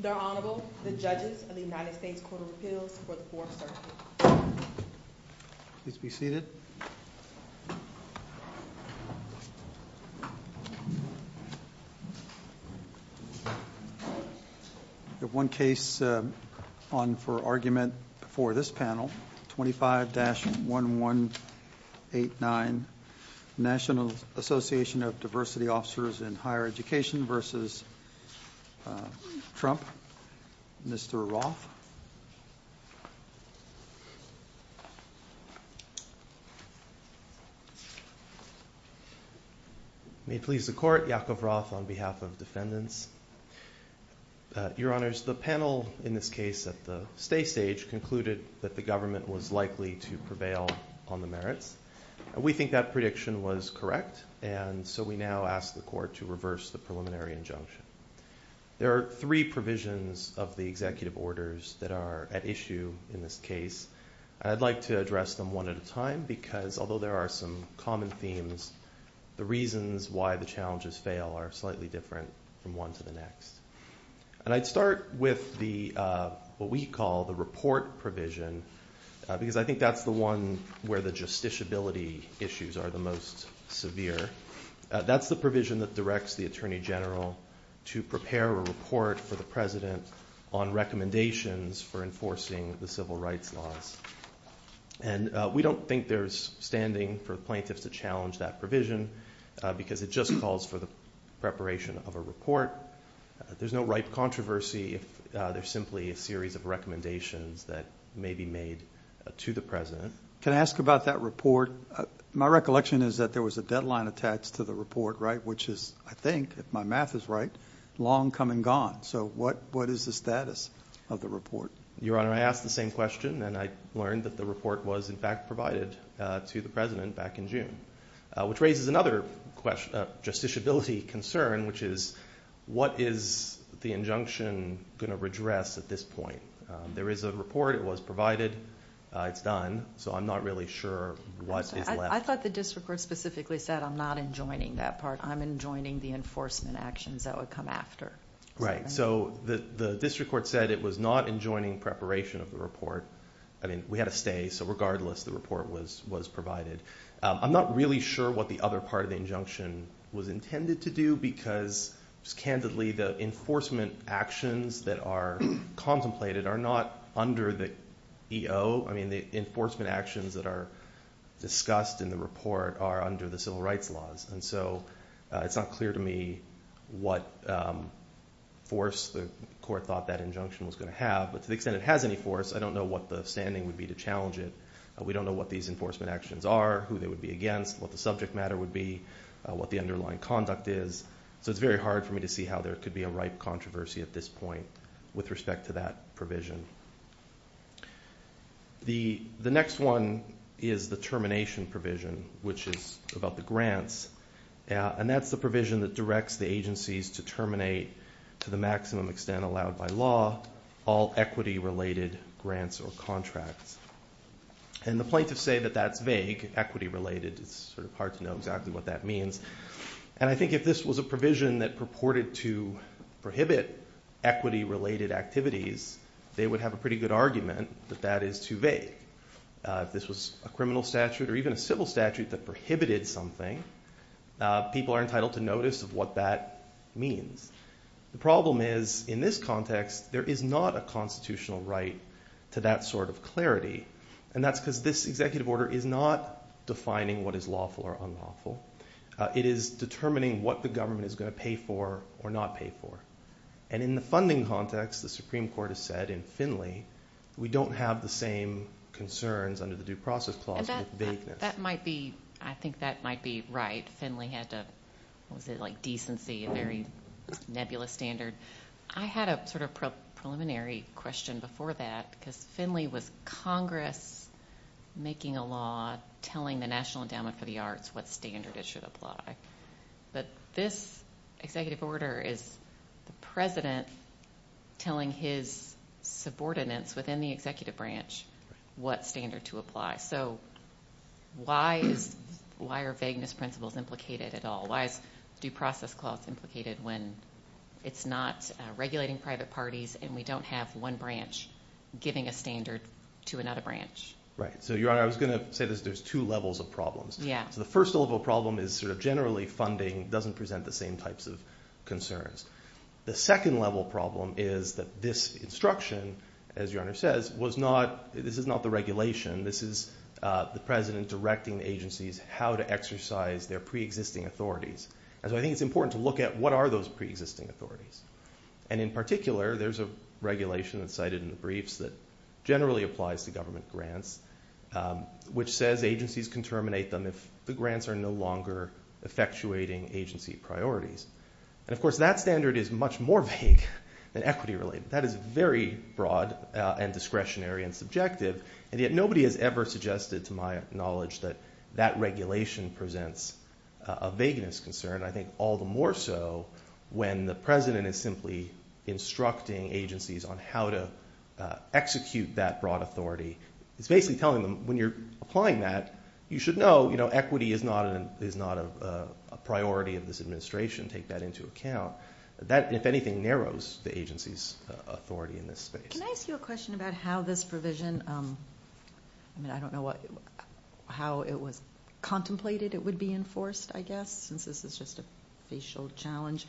The Honorable, the Judges of the United States Court of Appeals for the Fourth Circuit. Please be seated. We have one case on for argument before this panel, 25-1189, National Association of Diversity Officers in Higher Education v. Trump. Mr. Roth. May it please the Court, Yakov Roth on behalf of defendants. Your Honors, the panel in this case at the stay stage concluded that the government was likely to prevail on the merits. We think that prediction was correct, and so we now ask the Court to reverse the preliminary injunction. There are three provisions of the executive orders that are at issue in this case. I'd like to address them one at a time, because although there are some common themes, the reasons why the challenges fail are slightly different from one to the next. And I'd start with what we call the report provision, because I think that's the one where the justiciability issues are the most severe. That's the provision that directs the Attorney General to prepare a report for the President on recommendations for enforcing the civil rights laws. And we don't think there's standing for plaintiffs to challenge that provision, because it just calls for the preparation of a report. There's no ripe controversy if there's simply a series of recommendations that may be made to the President. Can I ask about that report? My recollection is that there was a deadline attached to the report, right, which is, I think, if my math is right, long come and gone. So what is the status of the report? Your Honor, I asked the same question, and I learned that the report was in fact provided to the President back in June, which raises another question of justiciability concern, which is what is the injunction going to redress at this point? There is a report. It was provided. It's done. So I'm not really sure what is left. I thought the district court specifically said, I'm not enjoining that part. I'm enjoining the enforcement actions that would come after. Right. So the district court said it was not enjoining preparation of the report. I mean, we had a stay, so regardless, the report was provided. I'm not really sure what the other part of the injunction was intended to do, because, just candidly, the enforcement actions that are contemplated are not under the EO. I mean, the enforcement actions that are discussed in the report are under the civil rights laws, and so it's not clear to me what force the court thought that injunction was going to have, but to the extent it has any force, I don't know what the standing would be to challenge it. We don't know what these enforcement actions are, who they would be against, what the subject matter would be, what the underlying conduct is. So it's very hard for me to see how there could be a ripe controversy at this point with respect to that provision. The next one is the termination provision, which is about the grants, and that's the provision that directs the agencies to terminate, to the maximum extent allowed by law, all equity-related grants or contracts. And the plaintiffs say that that's vague, equity-related. It's sort of hard to know exactly what that means, and I think if this was a provision that purported to prohibit equity-related activities, they would have a pretty good argument that that is too vague. If this was a criminal statute or even a civil statute that prohibited something, people are entitled to notice what that means. The problem is, in this context, there is not a constitutional right to that sort of clarity, and that's because this executive order is not defining what is lawful or unlawful. It is determining what the government is going to pay for or not pay for. And in the funding context, the Supreme Court has said in Finley, we don't have the same concerns under the Due Process Clause with vagueness. That might be, I think that might be right. Finley had to, what was it, like decency, a very nebulous standard. I had a sort of preliminary question before that, because Finley was Congress making a law telling the National Endowment for the Arts what standard it should apply. But this executive order is the President telling his subordinates within the executive branch what standard to apply. So why is, why are vagueness principles implicated at all? Why is Due Process Clause implicated when it's not regulating private parties and we don't have one branch giving a standard to another branch? Right. So, Your Honor, I was going to say this. There's two levels of problems. Yeah. So the first level problem is sort of generally funding doesn't present the same types of concerns. The second level problem is that this instruction, as Your Honor says, was not, this is not the regulation. This is the President directing agencies how to exercise their preexisting authorities. And so I think it's important to look at what are those preexisting authorities. And in particular, there's a regulation that's cited in the briefs that generally applies to government grants, which says agencies can terminate them if the grants are no longer effectuating agency priorities. And of course that standard is much more vague than equity related. That is very broad and discretionary and subjective. And yet nobody has ever suggested to my knowledge that that regulation presents a vagueness concern. I think all the more so when the President is simply instructing agencies on how to execute that broad authority. He's basically telling them when you're applying that, you should know equity is not a priority of this administration. Take that into account. That, if anything, narrows the agency's authority in this space. Can I ask you a question about how this provision, I mean I don't know how it was contemplated it would be enforced, I guess, since this is just a facial challenge.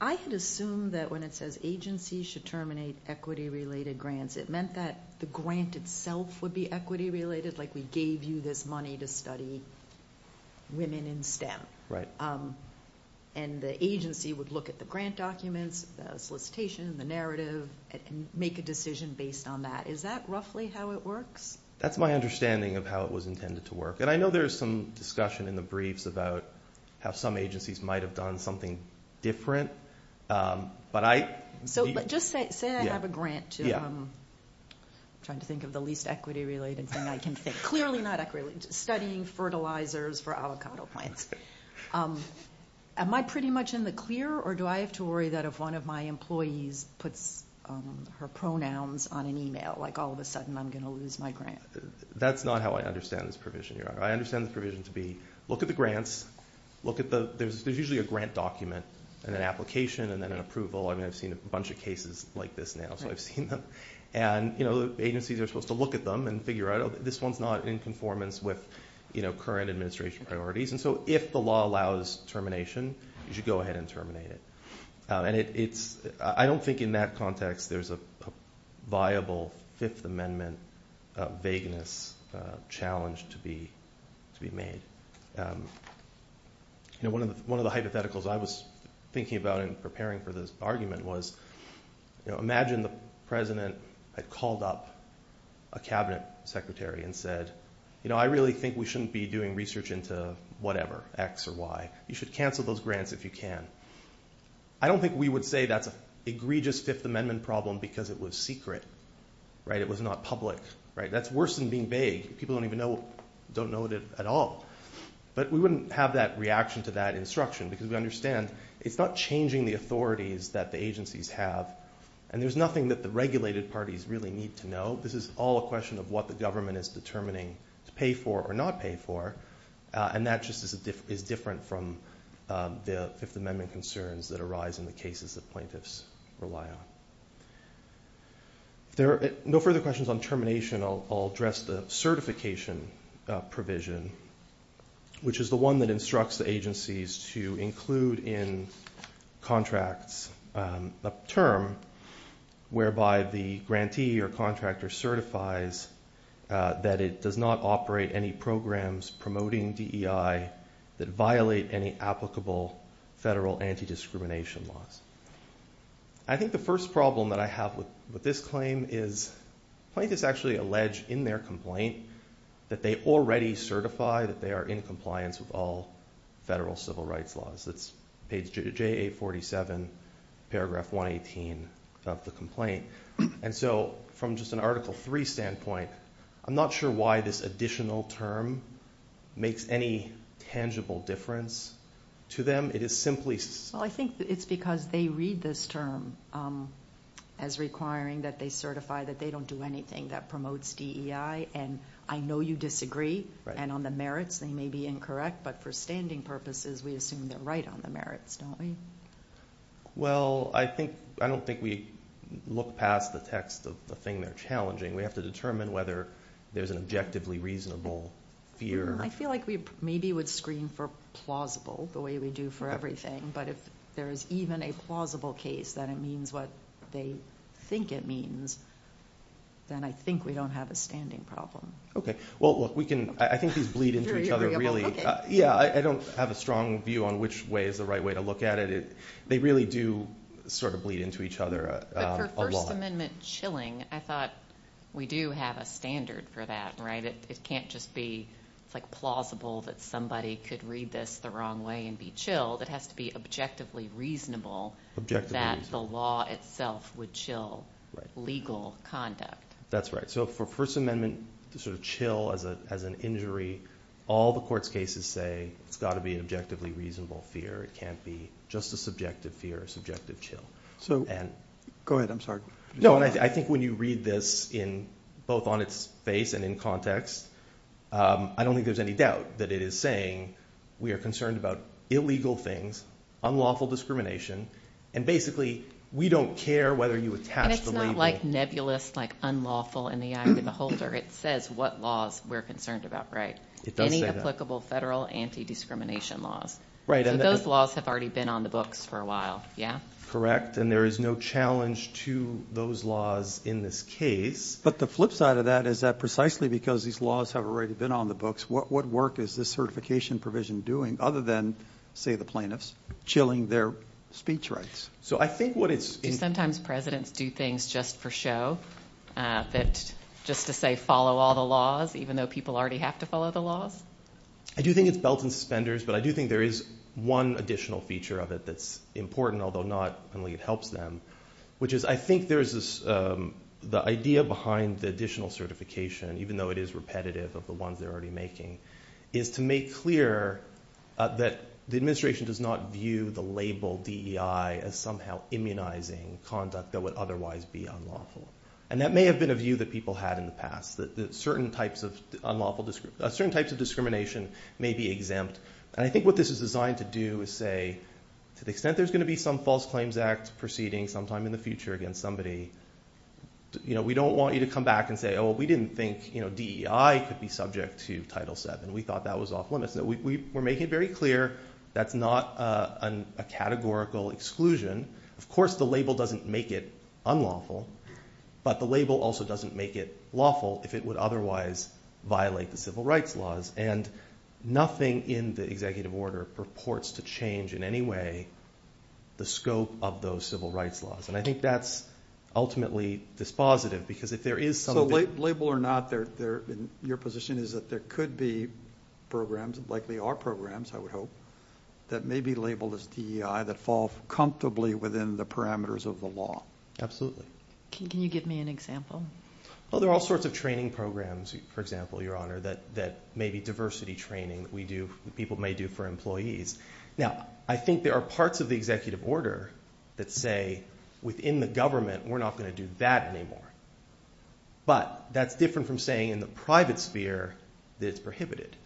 I had assumed that when it says agencies should terminate equity related grants, it meant that the grant itself would be equity related, like we gave you this money to study women in STEM. And the agency would look at the grant documents, solicitation, the narrative, and make a decision based on that. Is that roughly how it works? That's my understanding of how it was intended to work. And I know there's some discussion in the briefs about how some agencies might have done something different. So just say I have a grant to, I'm trying to think of the least equity related thing I can think of, clearly not equity related, studying fertilizers for avocado plants. Am I pretty much in the clear or do I have to worry that if one of my employees puts her pronouns on an email, like all of a sudden I'm going to lose my grant? That's not how I understand this provision, Your Honor. I understand the provision to be look at the grants, look at the, there's usually a grant document and an application and then an approval. I mean I've seen a bunch of cases like this now, so I've seen them. And the agencies are supposed to look at them and figure out, oh, this one's not in conformance with current administration priorities. And so if the law allows termination, you should go ahead and terminate it. And it's, I don't think in that context there's a viable Fifth Amendment vagueness challenge to be made. One of the hypotheticals I was thinking about in preparing for this argument was, imagine the president had called up a cabinet secretary and said, I really think we shouldn't be doing research into whatever, X or Y. You should cancel those grants if you can. I don't think we would say that's an egregious Fifth Amendment problem because it was secret. It was not public. That's worse than being vague. People don't even know, don't know it at all. But we wouldn't have that reaction to that instruction because we understand it's not changing the authorities that the agencies have. And there's nothing that the regulated parties really need to know. This is all a question of what the government is determining to pay for or not pay for. And that just is different from the Fifth Amendment concerns that arise in the cases that plaintiffs rely on. No further questions on termination. I'll address the certification provision, which is the one that instructs the agencies to include in contracts a term whereby the grantee or contractor certifies that it does not operate any programs promoting DEI that violate any laws. I think the first problem that I have with this claim is plaintiffs actually allege in their complaint that they already certify that they are in compliance with all federal civil rights laws. That's page JA-47, paragraph 118 of the complaint. And so from just an Article III standpoint, I'm not sure why this additional term makes any tangible difference to them. It is simply... Well, I think it's because they read this term as requiring that they certify that they don't do anything that promotes DEI. And I know you disagree. And on the merits, they may be incorrect. But for standing purposes, we assume they're right on the merits, don't we? Well, I don't think we look past the text of the thing they're challenging. We have to determine whether there's an objectively reasonable fear. I feel like we maybe would screen for plausible the way we do for everything. But if there is even a plausible case that it means what they think it means, then I think we don't have a standing problem. Okay. Well, look, we can... I think these bleed into each other really. Yeah, I don't have a strong view on which way is the right way to look at it. They really do sort of bleed into each other a lot. But for First Amendment chilling, I thought we do have a standard for that, right? It can't just be plausible that somebody could read this the wrong way and be chilled. It has to be objectively reasonable that the law itself would chill legal conduct. That's right. So for First Amendment to sort of chill as an injury, all the court's cases say it's got to be an objectively reasonable fear. It can't be just a subjective fear, a subjective chill. So go ahead. I'm sorry. No, I think when you read this in both on its face and in context, I don't think there's any doubt that it is saying we are concerned about illegal things, unlawful discrimination, and basically we don't care whether you attach the label... And it's not like nebulous, like unlawful in the eye of the beholder. It says what laws we're concerned about, right? Any applicable federal anti-discrimination laws. Those laws have already been on the books for a while. Yeah? Correct. And there is no challenge to those laws in this case. But the flip side of that is that precisely because these laws have already been on the books, what work is this certification provision doing other than, say, the plaintiffs chilling their speech rights? So I think what it's... Do sometimes presidents do things just for show? Just to say, follow all the laws, even though people already have to follow the laws? I do think it's belt and suspenders, but I do think there is one additional feature of it that's important, although not only it helps them, which is I think there's this... The idea behind the additional certification, even though it is repetitive of the ones they're already making, is to make clear that the administration does not view the label DEI as somehow immunizing conduct that would otherwise be unlawful. And that may have been a view that people had in the past, that certain types of discrimination may be exempt. And I think what this is designed to do is say, to the extent there's going to be some false claims act proceeding sometime in the future against somebody, we don't want you to come back and say, oh, we didn't think DEI could be subject to Title VII. We thought that was off limits. We're making it very clear that's not a categorical exclusion. Of course the label doesn't make it unlawful, but the label also doesn't make it lawful if it would otherwise violate the civil rights laws. And nothing in the executive order purports to change in any way the scope of those civil rights laws. And I think that's ultimately dispositive, because if there is some... So label or not, your position is that there could be programs, likely are programs, I would hope, that may be labeled as DEI that fall comfortably within the parameters of the law. Absolutely. Can you give me an example? Well, there are all sorts of training programs, for example, Your Honor, that may be diversity training that people may do for employees. Now, I think there are parts of the executive order that say, within the government, we're not going to do that anymore. But that's different from saying in the private sphere that it's prohibited.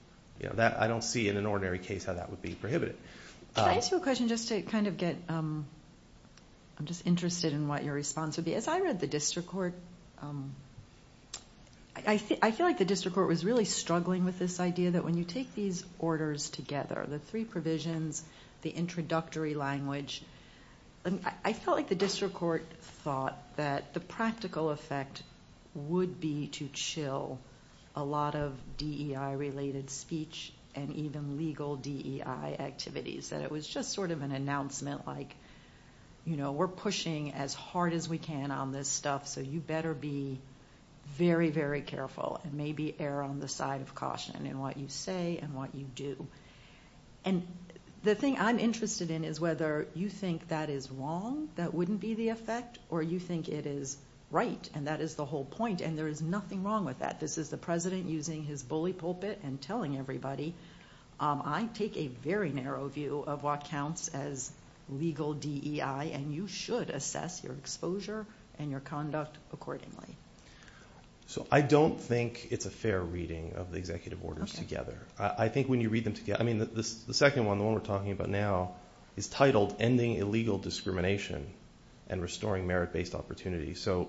I don't see in an ordinary case how that would be prohibited. Can I ask you a question just to kind of get... I'm just interested in what your response would be. As I read the district court... I feel like the district court was really struggling with this idea that when you take these orders together, the three provisions, the introductory language, I felt like the district court thought that the practical effect would be to chill a lot of DEI-related speech and even legal DEI activities, that it was just sort of an announcement like, you know, we're pushing as hard as we can on this stuff, so you better be very, very careful and maybe err on the side of caution in what you say and what you do. And the thing I'm interested in is whether you think that is wrong, that wouldn't be the effect, or you think it is right, and that is the whole point, and there is nothing wrong with that. This is the president using his bully pulpit and telling everybody. I don't take a very narrow view of what counts as legal DEI, and you should assess your exposure and your conduct accordingly. So I don't think it's a fair reading of the executive orders together. I think when you read them together... I mean, the second one, the one we're talking about now, is titled Ending Illegal Discrimination and Restoring Merit-Based Opportunity. So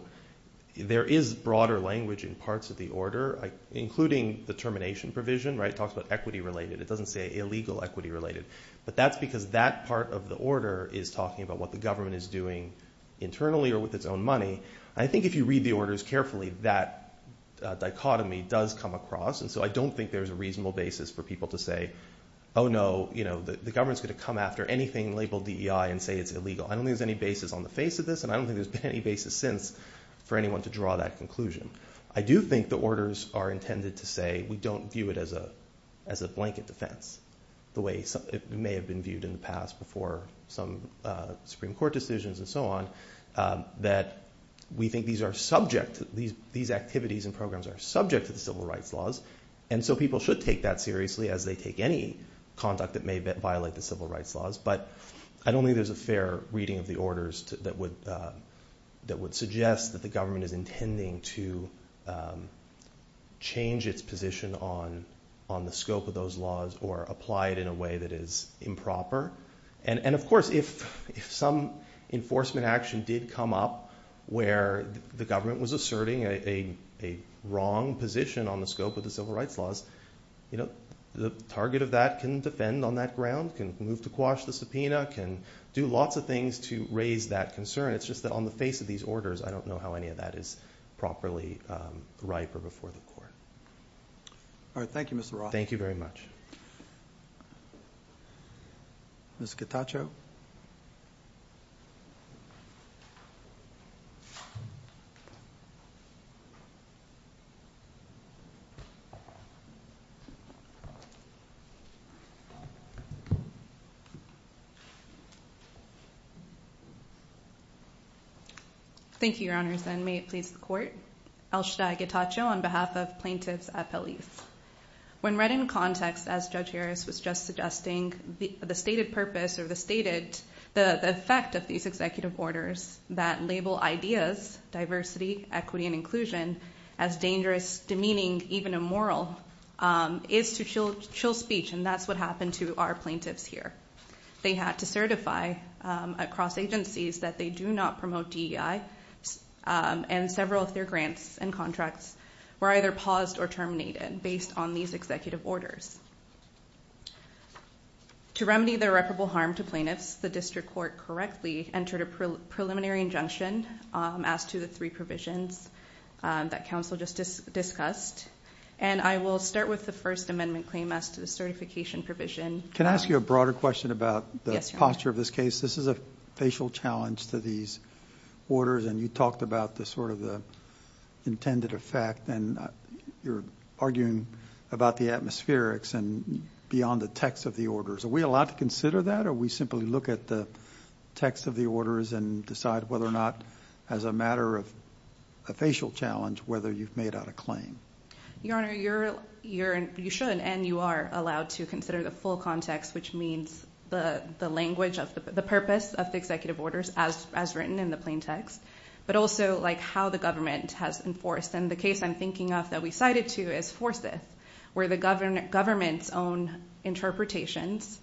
there is broader language in parts of the order, including the termination provision, right? It talks about equity-related. It doesn't say illegal equity-related. But that's because that part of the order is talking about what the government is doing internally or with its own money. I think if you read the orders carefully, that dichotomy does come across, and so I don't think there's a reasonable basis for people to say, oh no, the government's going to come after anything labeled DEI and say it's illegal. I don't think there's any basis on the face of this, and I don't think there's been any basis since for anyone to draw that conclusion. I do think the orders are intended to say we don't view it as a blanket defense, the way it may have been viewed in the past before some Supreme Court decisions and so on, that we think these activities and programs are subject to the civil rights laws, and so people should take that seriously as they take any conduct that may violate the civil rights laws. But I don't think there's a fair reading of the orders that would suggest that the government is going to change its position on the scope of those laws or apply it in a way that is improper. And of course, if some enforcement action did come up where the government was asserting a wrong position on the scope of the civil rights laws, the target of that can defend on that ground, can move to quash the subpoena, can do lots of things to raise that concern. It's just that on the face of these orders, I don't know how any of that is properly ripe or before the court. All right. Thank you, Mr. Roth. Thank you very much. Ms. Cataccio? Thank you, Your Honor. I think that's all I have to say. I think that's all I have to say. Thank you, Your Honors. And may it please the Court. I'll start. On behalf of plaintiffs at Peliz. When read in context, as Judge Harris was just suggesting, the stated purpose or the stated the effect of these executive orders that label ideas, diversity, equity, and inclusion as dangerous, demeaning, even immoral, is to chill speech. And that's what happened to our plaintiffs here. They had to certify across agencies that they do not promote DEI and several of their grants and contracts were either paused or terminated based on these executive orders. To remedy the irreparable harm to plaintiffs, the District Court correctly entered a preliminary injunction as to the three provisions that counsel just discussed. And I will start with the First Amendment claim as to the certification provision. Can I ask you a broader question about the posture of this case? This is a facial challenge to these orders and you talked about the sort of the intended effect and you're arguing about the atmospherics and beyond the text of the orders. Are we allowed to consider that or we simply look at the text of the orders and decide whether or not, as a matter of a facial challenge, whether you've made out a claim? Your Honor, you should and you are allowed to consider the full context, which means the language of the purpose of the executive orders as written in the plain text, but also like how the government has enforced. And the case I'm thinking of that we cited to is Forsyth, where the government's own interpretations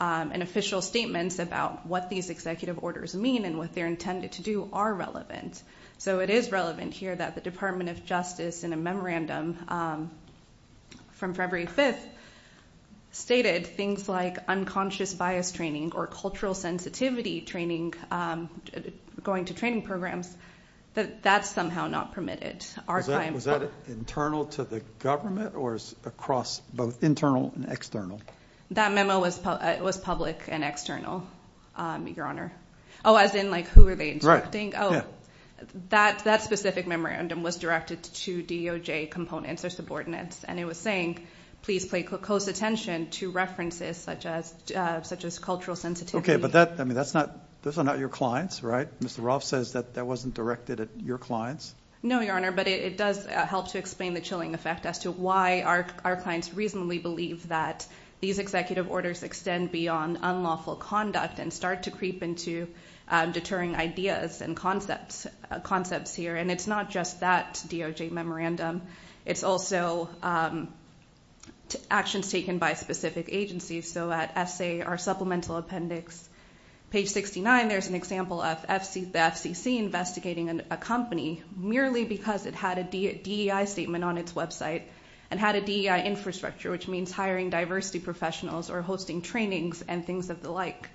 and official statements about what these executive orders mean and what they're intended to do are relevant. So it is relevant here that the Department of Justice in a memorandum from February 5th stated things like unconscious bias training or cultural sensitivity training, going to training programs, that that's somehow not permitted. Was that internal to the government or across both internal and external? That memo was public and external, Your Honor. Oh, as in like who are they instructing? That specific memorandum was directed to DOJ components or subordinates and it was saying, please pay close attention to references such as cultural sensitivity. Okay, but that's not your clients, right? Mr. Rolf says that that wasn't directed at your clients? No, Your Honor, but it does help to explain the chilling effect as to why our clients reasonably believe that these executive orders extend beyond unlawful conduct and start to creep into deterring ideas and concepts here. And it's not just that DOJ memorandum. It's also actions taken by specific agencies. So at SA, our supplemental appendix, page 69, there's an example of FCC investigating a company merely because it had a DEI statement on its website and had a DEI infrastructure, which means hiring diversity professionals or hosting trainings and things of the like.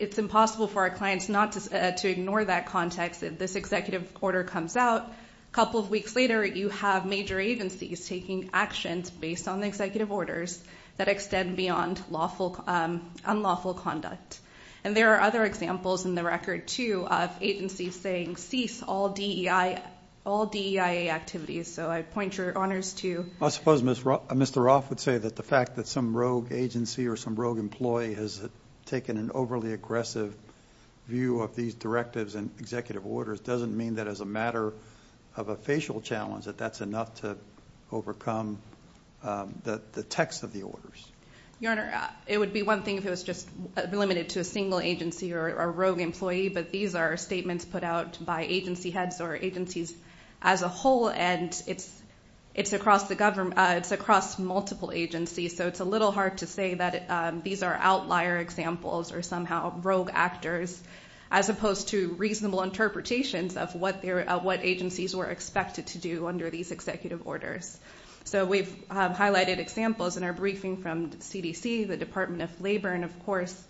It's impossible for our clients not to ignore that context. If this executive order comes out, a couple of weeks later, you have major agencies taking actions based on the executive orders that extend beyond unlawful conduct. And there are other examples in the record too of agencies saying, cease all DEIA activities. So I point your honors to- I suppose Mr. Rolf would say that the fact that some rogue agency or some rogue employee has taken an overly aggressive view of these directives and executive orders doesn't mean that as a matter of a facial challenge that that's enough to overcome the text of the orders. Your Honor, it would be one thing if it was just limited to a single agency or a rogue employee, but these are statements put out by agency heads or agencies as a whole, and it's across multiple agencies. So it's a little hard to say that these are outlier examples or somehow rogue actors, as opposed to reasonable interpretations of what agencies were expected to do under these executive orders. So we've highlighted examples in our briefing from CDC, the Department of Labor, and of course,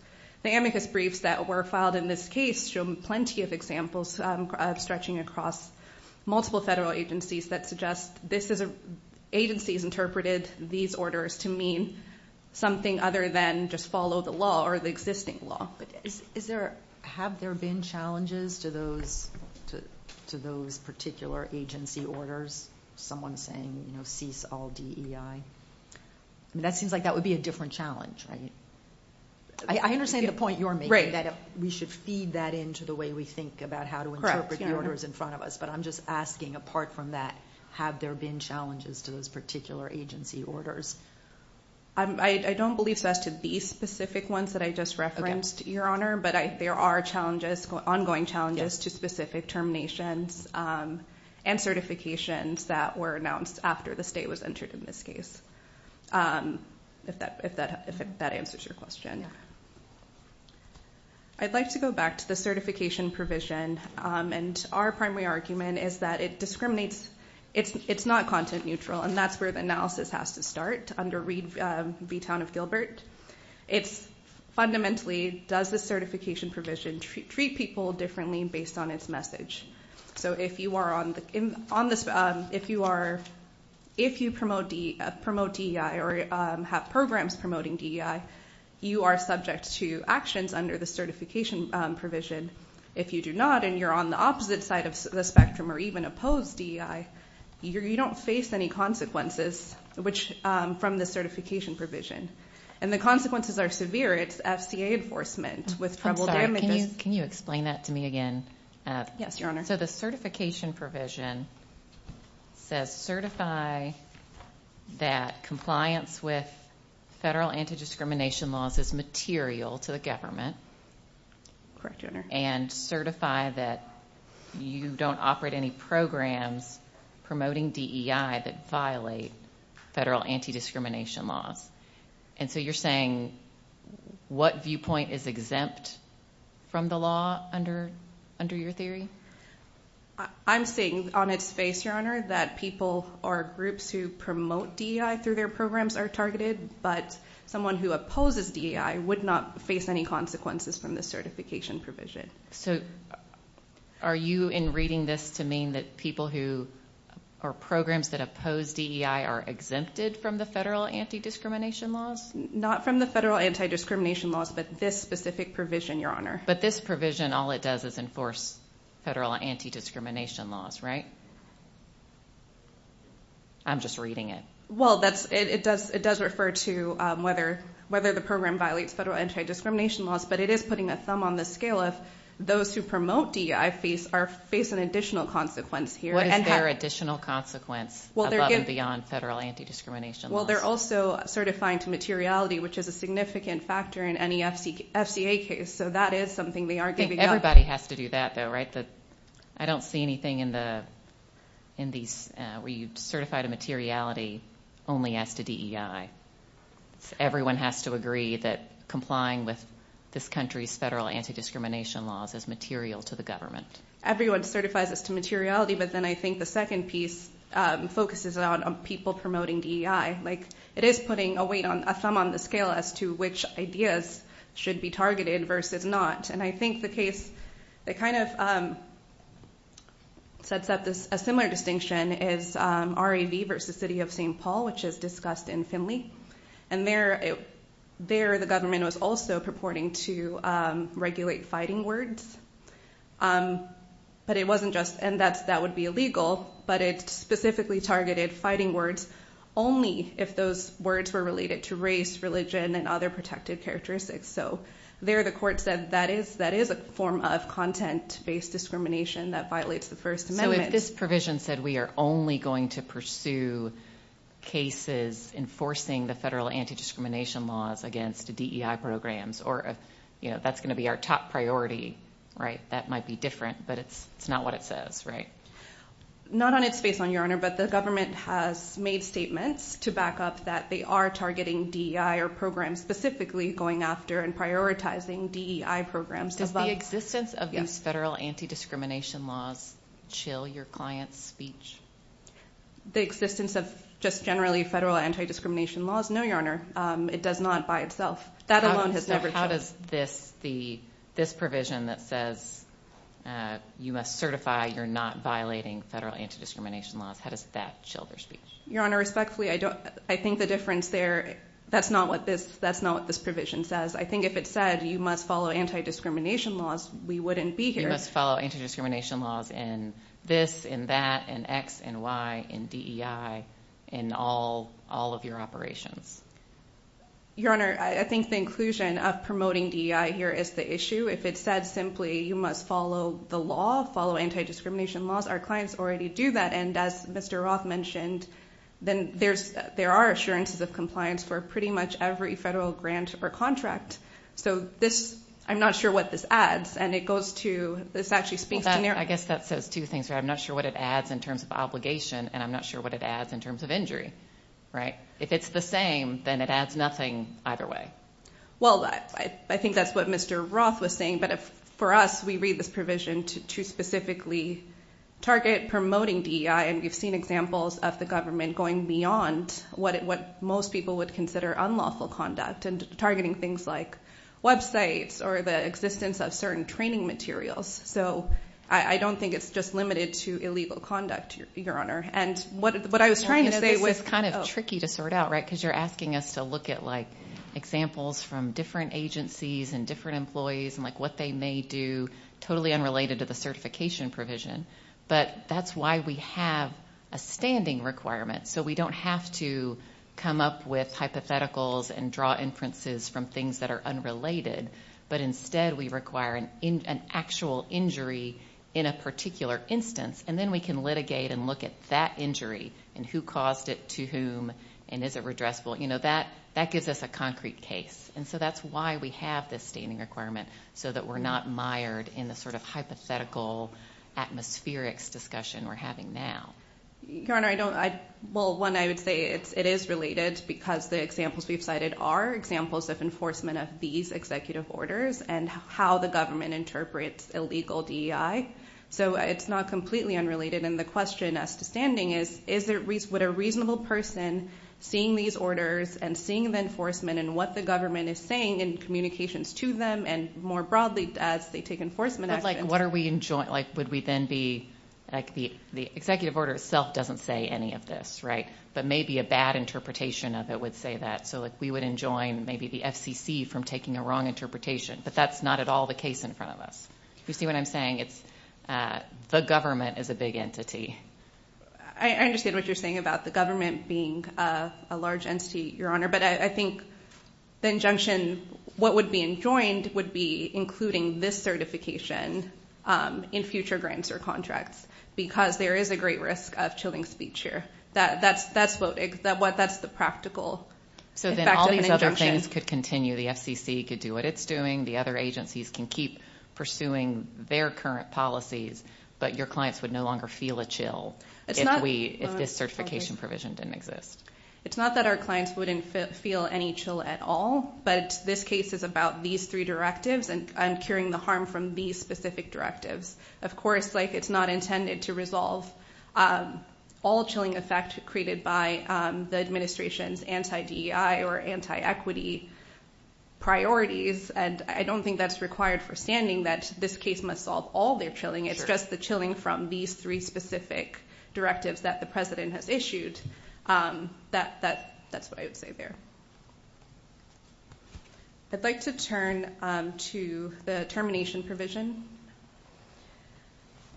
the amicus briefs that were filed in this case show plenty of examples stretching across multiple federal agencies that suggest this is- agencies interpreted these orders to mean something other than just follow the law or the existing law. Have there been challenges to those particular agency orders? Someone saying, you know, cease all DEI. That seems like that would be a different challenge, right? I understand the point you're making that we should feed that into the way we think about how to interpret the orders in front of us, but I'm just asking apart from that, have there been challenges to those particular agency orders? I don't believe so as to these specific ones that I just referenced, Your Honor, but there are challenges, ongoing challenges to specific terminations and certifications that were announced after the state was entered in this case, if that answers your question. I'd like to go back to the certification provision, and our primary argument is that it discriminates- it's not content neutral, and that's where the analysis has to start under Reed v. Town of Gilbert. It's fundamentally, does the certification provision treat people differently based on its message? So if you are on the- if you are- if you promote DEI or have programs promoting DEI, you are subject to actions under the certification provision. If you do not and you're on the opposite side of the spectrum or even oppose DEI, you don't face any consequences which- from the certification provision, and the consequences are severe. It's FCA enforcement with trouble damages- I'm sorry, can you explain that to me again? Yes, Your Honor. So the certification provision says certify that compliance with federal anti-discrimination laws is material to the government- Correct, Your Honor. And certify that you don't operate any programs promoting DEI that violate federal anti-discrimination laws. And so you're saying what viewpoint is exempt from the law under your theory? I'm saying on its face, Your Honor, that people or groups who promote DEI through their programs are targeted, but someone who opposes DEI would not face any consequences from the certification provision. So are you in reading this to mean that people who- or programs that oppose DEI are exempted from the federal anti-discrimination laws? Not from the federal anti-discrimination laws, but this specific provision, Your Honor. But this provision, all it does is enforce federal anti-discrimination laws, right? I'm just reading it. Well, that's- it does refer to whether the program violates federal anti-discrimination laws, but it is putting a thumb on the scale of those who promote DEI face an additional consequence here. What is their additional consequence above and beyond federal anti-discrimination laws? Well, they're also certifying to materiality, which is a significant factor in any FCA case. So that is something they are giving up. Everybody has to do that, though, right? I don't see anything in the- where you certify to materiality only as to DEI. Everyone has to agree that complying with this country's federal anti-discrimination laws is material to the government. Everyone certifies as to materiality, but then I think the second piece focuses on people promoting DEI. Like, it is putting a weight on- a thumb on the scale as to which ideas should be targeted versus not. And I think the case that kind of sets up this- a similar case is the city versus the city of St. Paul, which is discussed in Finley. And there, it- there the government was also purporting to regulate fighting words. But it wasn't just- and that's- that would be illegal, but it specifically targeted fighting words only if those words were related to race, religion, and other protected characteristics. So there the court said that is- that is a form of content-based discrimination that violates the First Amendment. So if this provision said we are only going to pursue cases enforcing the federal anti-discrimination laws against DEI programs, or if, you know, that's going to be our top priority, right? That might be different, but it's- it's not what it says, right? Not on its face, Your Honor, but the government has made statements to back up that they are targeting DEI or programs specifically going after and prioritizing DEI programs- Does the existence of these federal anti-discrimination laws chill your client's speech? The existence of just generally federal anti-discrimination laws? No, Your Honor. It does not by itself. That alone has never- So how does this- the- this provision that says you must certify you're not violating federal anti-discrimination laws, how does that chill their speech? Your Honor, respectfully, I don't- I think the difference there- that's not what this- that's not what this provision says. I think if it said you must follow anti-discrimination laws, we wouldn't be here- You must follow anti-discrimination laws in this, in that, in X, in Y, in DEI, in all- all of your operations. Your Honor, I think the inclusion of promoting DEI here is the issue. If it said simply you must follow the law, follow anti-discrimination laws, our clients already do that, and as Mr. Roth mentioned, then there's- there are assurances of compliance for pretty much every federal grant or contract. So this- I'm not sure what this adds, and it goes to- this actually speaks to- I guess that says two things. I'm not sure what it adds in terms of obligation, and I'm not sure what it adds in terms of injury, right? If it's the same, then it adds nothing either way. Well, I think that's what Mr. Roth was saying, but for us, we read this provision to specifically target promoting DEI, and we've seen examples of the government going beyond what most people would consider unlawful conduct, and targeting things like websites, or the existence of certain training materials. So I don't think it's just limited to illegal conduct, Your Honor. And what I was trying to say was- Well, you know, this is kind of tricky to sort out, right? Because you're asking us to look at, like, examples from different agencies, and different employees, and, like, what they may do, totally unrelated to the certification provision. But that's why we have a standing requirement. So we don't have to come up with hypotheticals and draw inferences from things that are unrelated. But instead, we require an actual injury in a particular instance, and then we can litigate and look at that injury, and who caused it, to whom, and is it redressable? You know, that gives us a concrete case. And so that's why we have this standing requirement, so that we're not mired in the sort of hypothetical atmospherics discussion we're having now. Your Honor, I don't- Well, one, I would say it is related, because the examples we've cited are examples of enforcement of these executive orders, and how the government interprets illegal DEI. So it's not completely unrelated. And the question as to standing is, would a reasonable person, seeing these orders, and seeing the enforcement, and what the government is saying in communications to them, and more broadly, as they take enforcement action- But what are we in joint, like, would we then be, like, the executive order itself doesn't say any of this, right? But maybe a bad interpretation of it would say that. So like, we would enjoin maybe the FCC from taking a wrong interpretation. But that's not at all the case in front of us. You see what I'm saying? It's, the government is a big entity. I understand what you're saying about the government being a large entity, Your Honor. But I think the injunction, what would be enjoined, would be including this certification in future grants or contracts, because there is a great risk of chilling speech here. That's the practical effect of an injunction. So then all these other things could continue. The FCC could do what it's doing. The other agencies can keep pursuing their current policies. But your clients would no longer feel a chill if we, if this certification provision didn't exist. It's not that our clients wouldn't feel any chill at all. But this case is about these three directives and curing the harm from these specific directives. Of course, like, it's not intended to resolve all chilling effect created by the administration's anti-DEI or anti-equity priorities. And I don't think that's required for standing that this case must solve all their chilling. It's just the chilling from these three specific directives that the president has issued. That's what I would say there. I'd like to turn to the termination provision.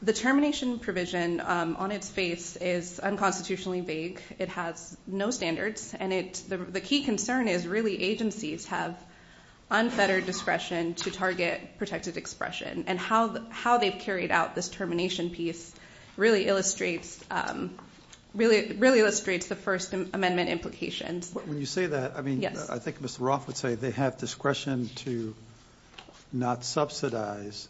The termination provision on its face is unconstitutionally vague. It has no standards. And the key concern is, really, agencies have unfettered discretion to target protected expression. And how they've carried out this termination piece really illustrates, really illustrates the First Amendment implications. When you say that, I mean, I think Mr. Roth would say they have discretion to not subsidize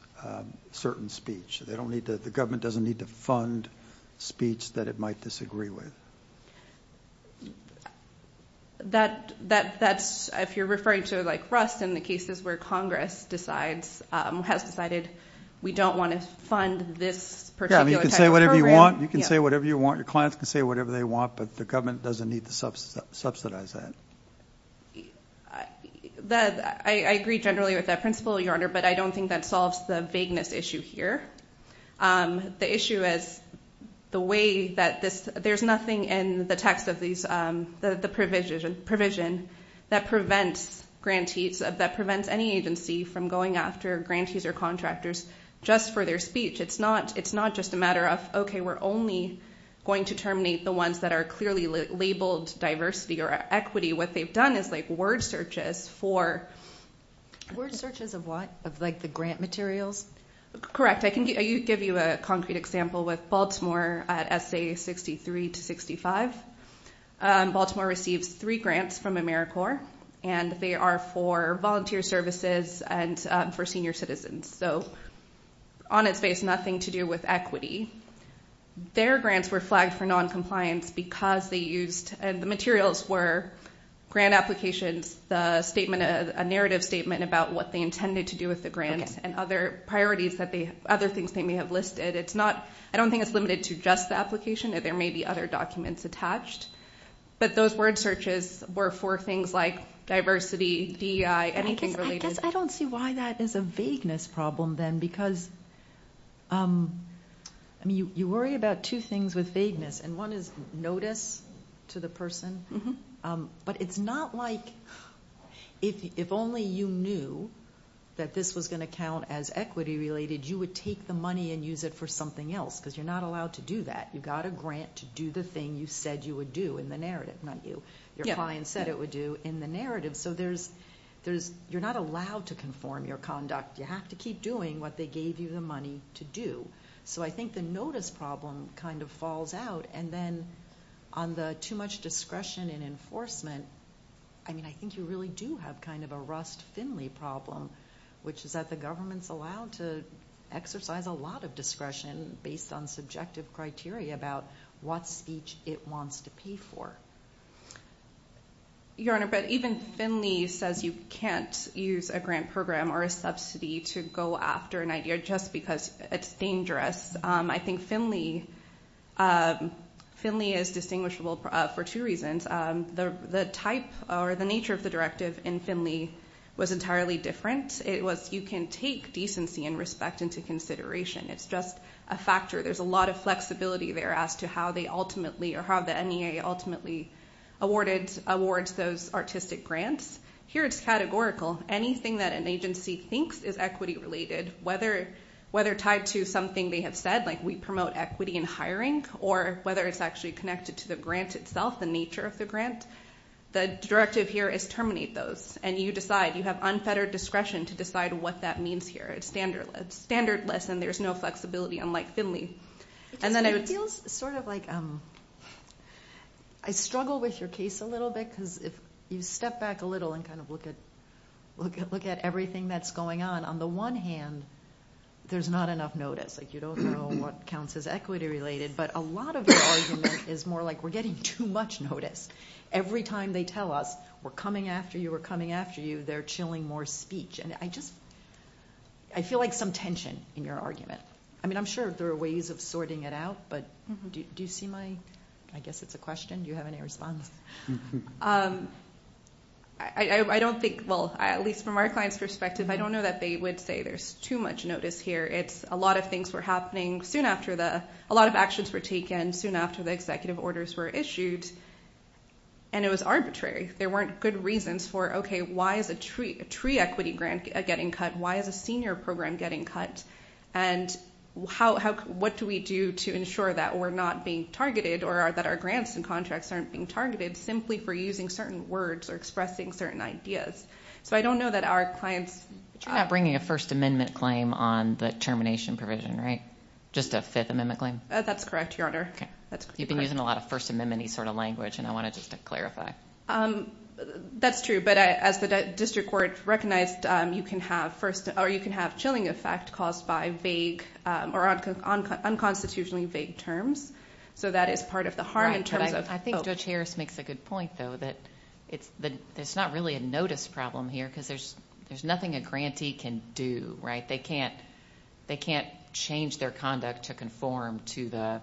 certain speech. They don't need to, the government doesn't need to fund speech that it might disagree with. That, that, that's, if you're referring to like Rust and the cases where Congress decides, has decided, we don't want to fund this particular You can say whatever you want. You can say whatever you want. Your clients can say whatever they want, but the government doesn't need to subsidize that. I agree generally with that principle, Your Honor, but I don't think that solves the vagueness issue here. The issue is the way that this, there's nothing in the text of these, the provision, provision that prevents grantees, that prevents any agency from going after grantees or contractors just for their speech. It's not, it's not just a matter of, okay, we're only going to terminate the ones that are clearly labeled diversity or equity. What they've done is like word searches for... Word searches of what? Of like the grant materials? Correct. I can give you a concrete example with Baltimore at SA 63 to 65. Baltimore receives three grants from AmeriCorps and they are for volunteer services and for senior citizens. So on its face, nothing to do with equity. Their grants were flagged for noncompliance because they used, and the materials were grant applications, the statement, a narrative statement about what they intended to do with the grant and other priorities that they, other things they may have listed. It's not, I don't think it's limited to just the application. There may be other documents attached, but those word searches were for things like diversity, DEI, anything related. I guess I don't see why that is a vagueness problem then because, I mean, you worry about two things with vagueness and one is notice to the person, but it's not like if only you knew that this was going to count as equity related, you would take the money and use it for something else because you're not allowed to do that. You got a grant to do the thing you said you would do in the narrative, not you. Your client said it would do in the narrative. So there's, you're not allowed to conform your conduct. You have to keep doing what they gave you the money to do. So I think the notice problem kind of falls out and then on the too much discretion and enforcement, I mean, I think you really do have kind of a Rust-Finley problem, which is that the government's not allowed to exercise a lot of discretion based on subjective criteria about what speech it wants to pay for. Your Honor, but even Finley says you can't use a grant program or a subsidy to go after an idea just because it's dangerous. I think Finley is distinguishable for two reasons. The type or the nature of the directive in Finley was entirely different. It was you can take decency and respect into consideration. It's just a factor. There's a lot of flexibility there as to how they ultimately or how the NEA ultimately awards those artistic grants. Here it's categorical. Anything that an agency thinks is equity related, whether tied to something they have said, like we promote equity in hiring or whether it's actually connected to the grant itself, the nature of the grant, the directive here is terminate those. You decide. You have unfettered discretion to decide what that means here. It's standardless and there's no flexibility unlike Finley. It feels sort of like I struggle with your case a little bit because if you step back a little and kind of look at everything that's going on, on the one hand, there's not enough notice. You don't know what counts as equity related, but a lot of your argument is more like we're getting too much notice. Every time they tell us we're coming after you, we're coming after you, they're chilling more speech. I feel like some tension in your argument. I'm sure there are ways of sorting it out, but do you see my, I guess it's a question. Do you have any response? I don't think, well, at least from our client's perspective, I don't know that they would say there's too much notice here. It's a lot of things were happening soon after the, a were issued and it was arbitrary. There weren't good reasons for, okay, why is a tree, a tree equity grant getting cut? Why is a senior program getting cut? And how, how, what do we do to ensure that we're not being targeted or that our grants and contracts aren't being targeted simply for using certain words or expressing certain ideas? So I don't know that our clients. You're not bringing a first amendment claim on the termination provision, right? Just a fifth amendment claim. That's correct, your honor. Okay. You've been using a lot of first amemony sort of language and I want to just clarify. That's true, but as the district court recognized, you can have first or you can have chilling effect caused by vague or unconstitutionally vague terms. So that is part of the harm in terms of- I think Judge Harris makes a good point though, that it's the, there's not really a notice problem here cause there's, there's nothing a grantee can do, right? They can't, they can't change their conduct to conform to the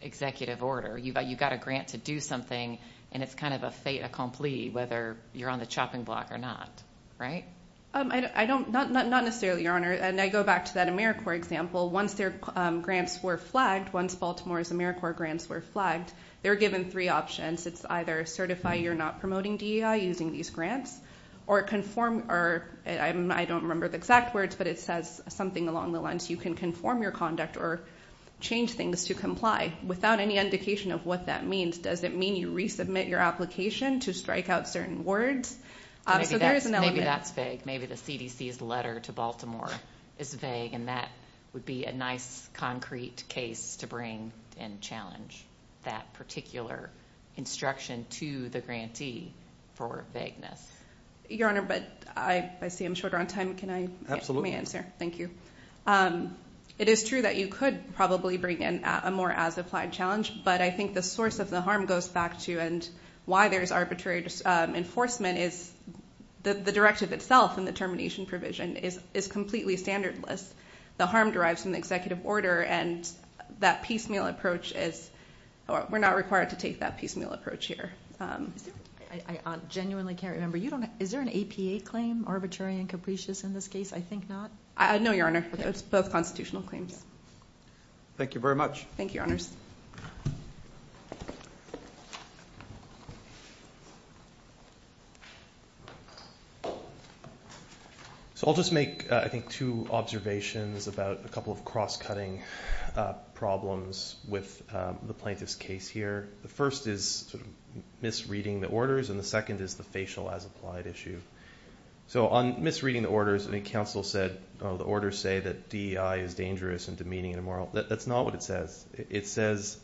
executive order. You've got, you've got a grant to do something and it's kind of a fait accompli whether you're on the chopping block or not, right? I don't, not, not necessarily, your honor. And I go back to that AmeriCorps example. Once their grants were flagged, once Baltimore's AmeriCorps grants were flagged, they were given three options. It's either certify you're not promoting DEI using these grants or conform or I don't remember the exact words, but it says something along the lines, you can conform your conduct or change things to comply without any indication of what that means. Does it mean you resubmit your application to strike out certain words? So there is an element. Maybe that's vague. Maybe the CDC's letter to Baltimore is vague and that would be a nice concrete case to bring and challenge that particular instruction to the grantee for vagueness. Your honor, but I see I'm shorter on time. Can I, let me answer. Thank you. It is true that you could probably bring in a more as applied challenge, but I think the source of the harm goes back to, and why there's arbitrary enforcement is the directive itself and the termination provision is, is completely standard list. The harm derives from the executive order and that piecemeal approach is, we're not required to take that piecemeal approach here. Um, I genuinely can't remember. You don't, is there an APA claim arbitrary and capricious in this case? I think not. I know your honor, it's both constitutional claims. Thank you very much. Thank you, your honors. So I'll just make, uh, I think two observations about a couple of cross cutting, uh, problems with, um, the plaintiff's case here. The first is sort of misreading the orders and the second is the facial as applied issue. So on misreading the orders and the council said, oh, the order say that DEI is dangerous and demeaning and immoral. That's not what it says. It says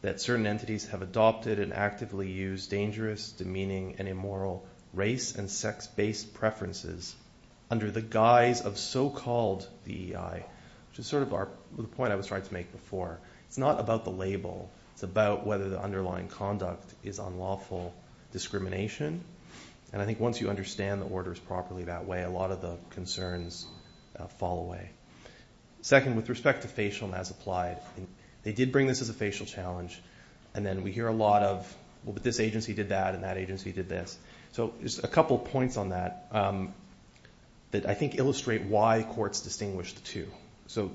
that certain entities have adopted and actively use dangerous, demeaning and immoral race and sex based preferences under the guise of so-called DEI, which is sort of our point I was trying to make before. It's not about the label. It's about whether the underlying conduct is unlawful discrimination. And I think once you understand the orders properly that way, a lot of the concerns fall away. Second, with respect to facial and as applied, they did bring this as a facial challenge and then we hear a lot of, well, but this agency did that and that agency did this. So there's a couple of points on that, um, that I think illustrate why courts distinguish the two. So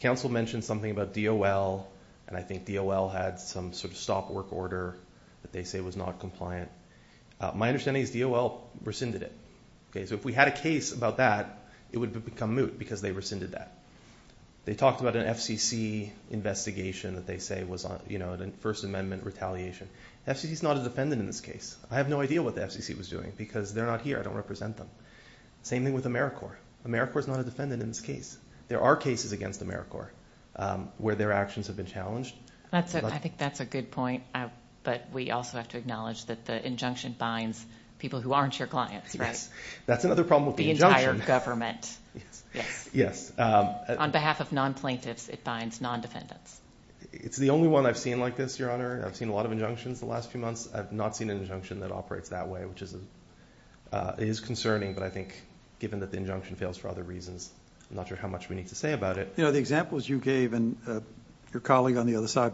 council mentioned something about DOL and I think DOL had some sort of stop work order that they say was not compliant. Uh, my understanding is DOL rescinded it. Okay. So if we had a case about that, it would become moot because they rescinded that. They talked about an FCC investigation that they say was on, you know, the first amendment retaliation. FCC is not a defendant in this case. I have no idea what the FCC was doing because they're not here. I don't represent them. Same thing with AmeriCorps. AmeriCorps is not a defendant in this case. There are cases against AmeriCorps, um, where their actions have been challenged. That's a, I think that's a good point. But we also have to acknowledge that the injunction binds people who aren't your clients, right? That's another problem with the injunction. The entire government. Yes. Yes. Um, On behalf of non plaintiffs, it binds non defendants. It's the only one I've seen like this, Your Honor. I've seen a lot of injunctions the last few months. I've not seen an injunction that operates that way, which is, uh, is concerning. But I think given that the injunction fails for other reasons, I'm not sure how much we need to say about it. You know, the examples you gave and, uh, your colleague on the other side,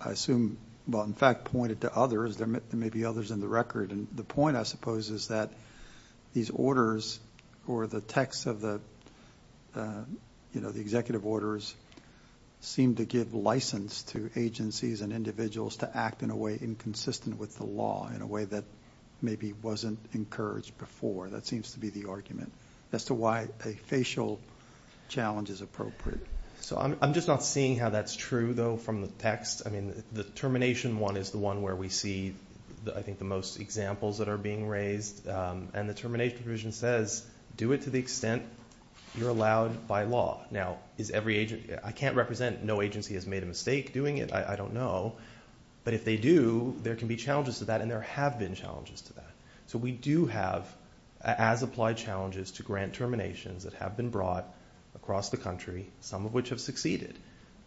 I assume, well, in fact pointed to others, there may be others in the record. And the point I suppose is that these orders or the texts of the, uh, you know, the executive orders seem to give license to agencies and individuals to act in a way inconsistent with the law in a way that maybe wasn't encouraged before. That seems to be the argument as to why a facial challenge is appropriate. So I'm just not seeing how that's true though from the text. I mean, the termination one is the one where we see, I think the most examples that are being raised. Um, and the termination provision says, do it to the extent you're allowed by law. Now is every agent I can't represent. No agency has made a mistake doing it. I don't know. But if they do, there can be challenges to that and there have been challenges to that. So we do have as applied challenges to grant terminations that have been brought across the country, some of which have succeeded.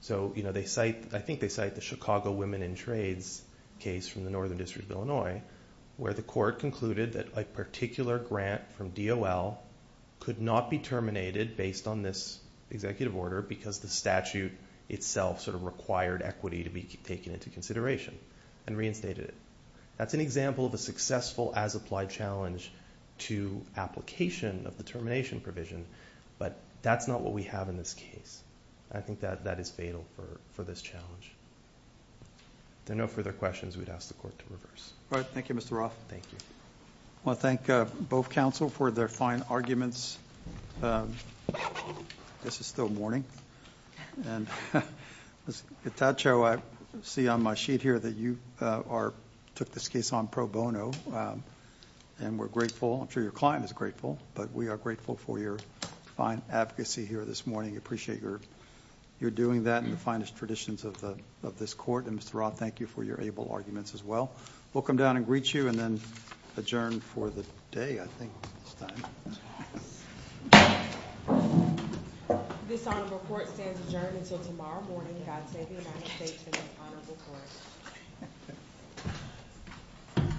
So, you know, they cite, I think they cite the Chicago women in trades case from the Northern District of Illinois where the court concluded that a particular grant from DOL could not be terminated based on this executive order because the statute itself sort of required equity to be taken into consideration and reinstated it. That's an example of a successful as applied challenge to application of the termination provision, but that's not what we have in this case. I think that that is fatal for this challenge. There are no further questions we'd ask the court to reverse. All right. Thank you, Mr. Roth. Thank you. I want to thank both counsel for their fine arguments. This is still morning. Ms. Gattaccio, I see on my sheet here that you took this case on pro bono and we're grateful. I'm sure your client is grateful, but we are grateful for your fine advocacy here this morning. We appreciate your doing that and the finest traditions of this court. And Mr. Roth, thank you for your able arguments as well. We'll come down and greet you and then adjourn for the day, I think, this time. This honorable court stands adjourned until tomorrow morning. God save the United States and the honorable court.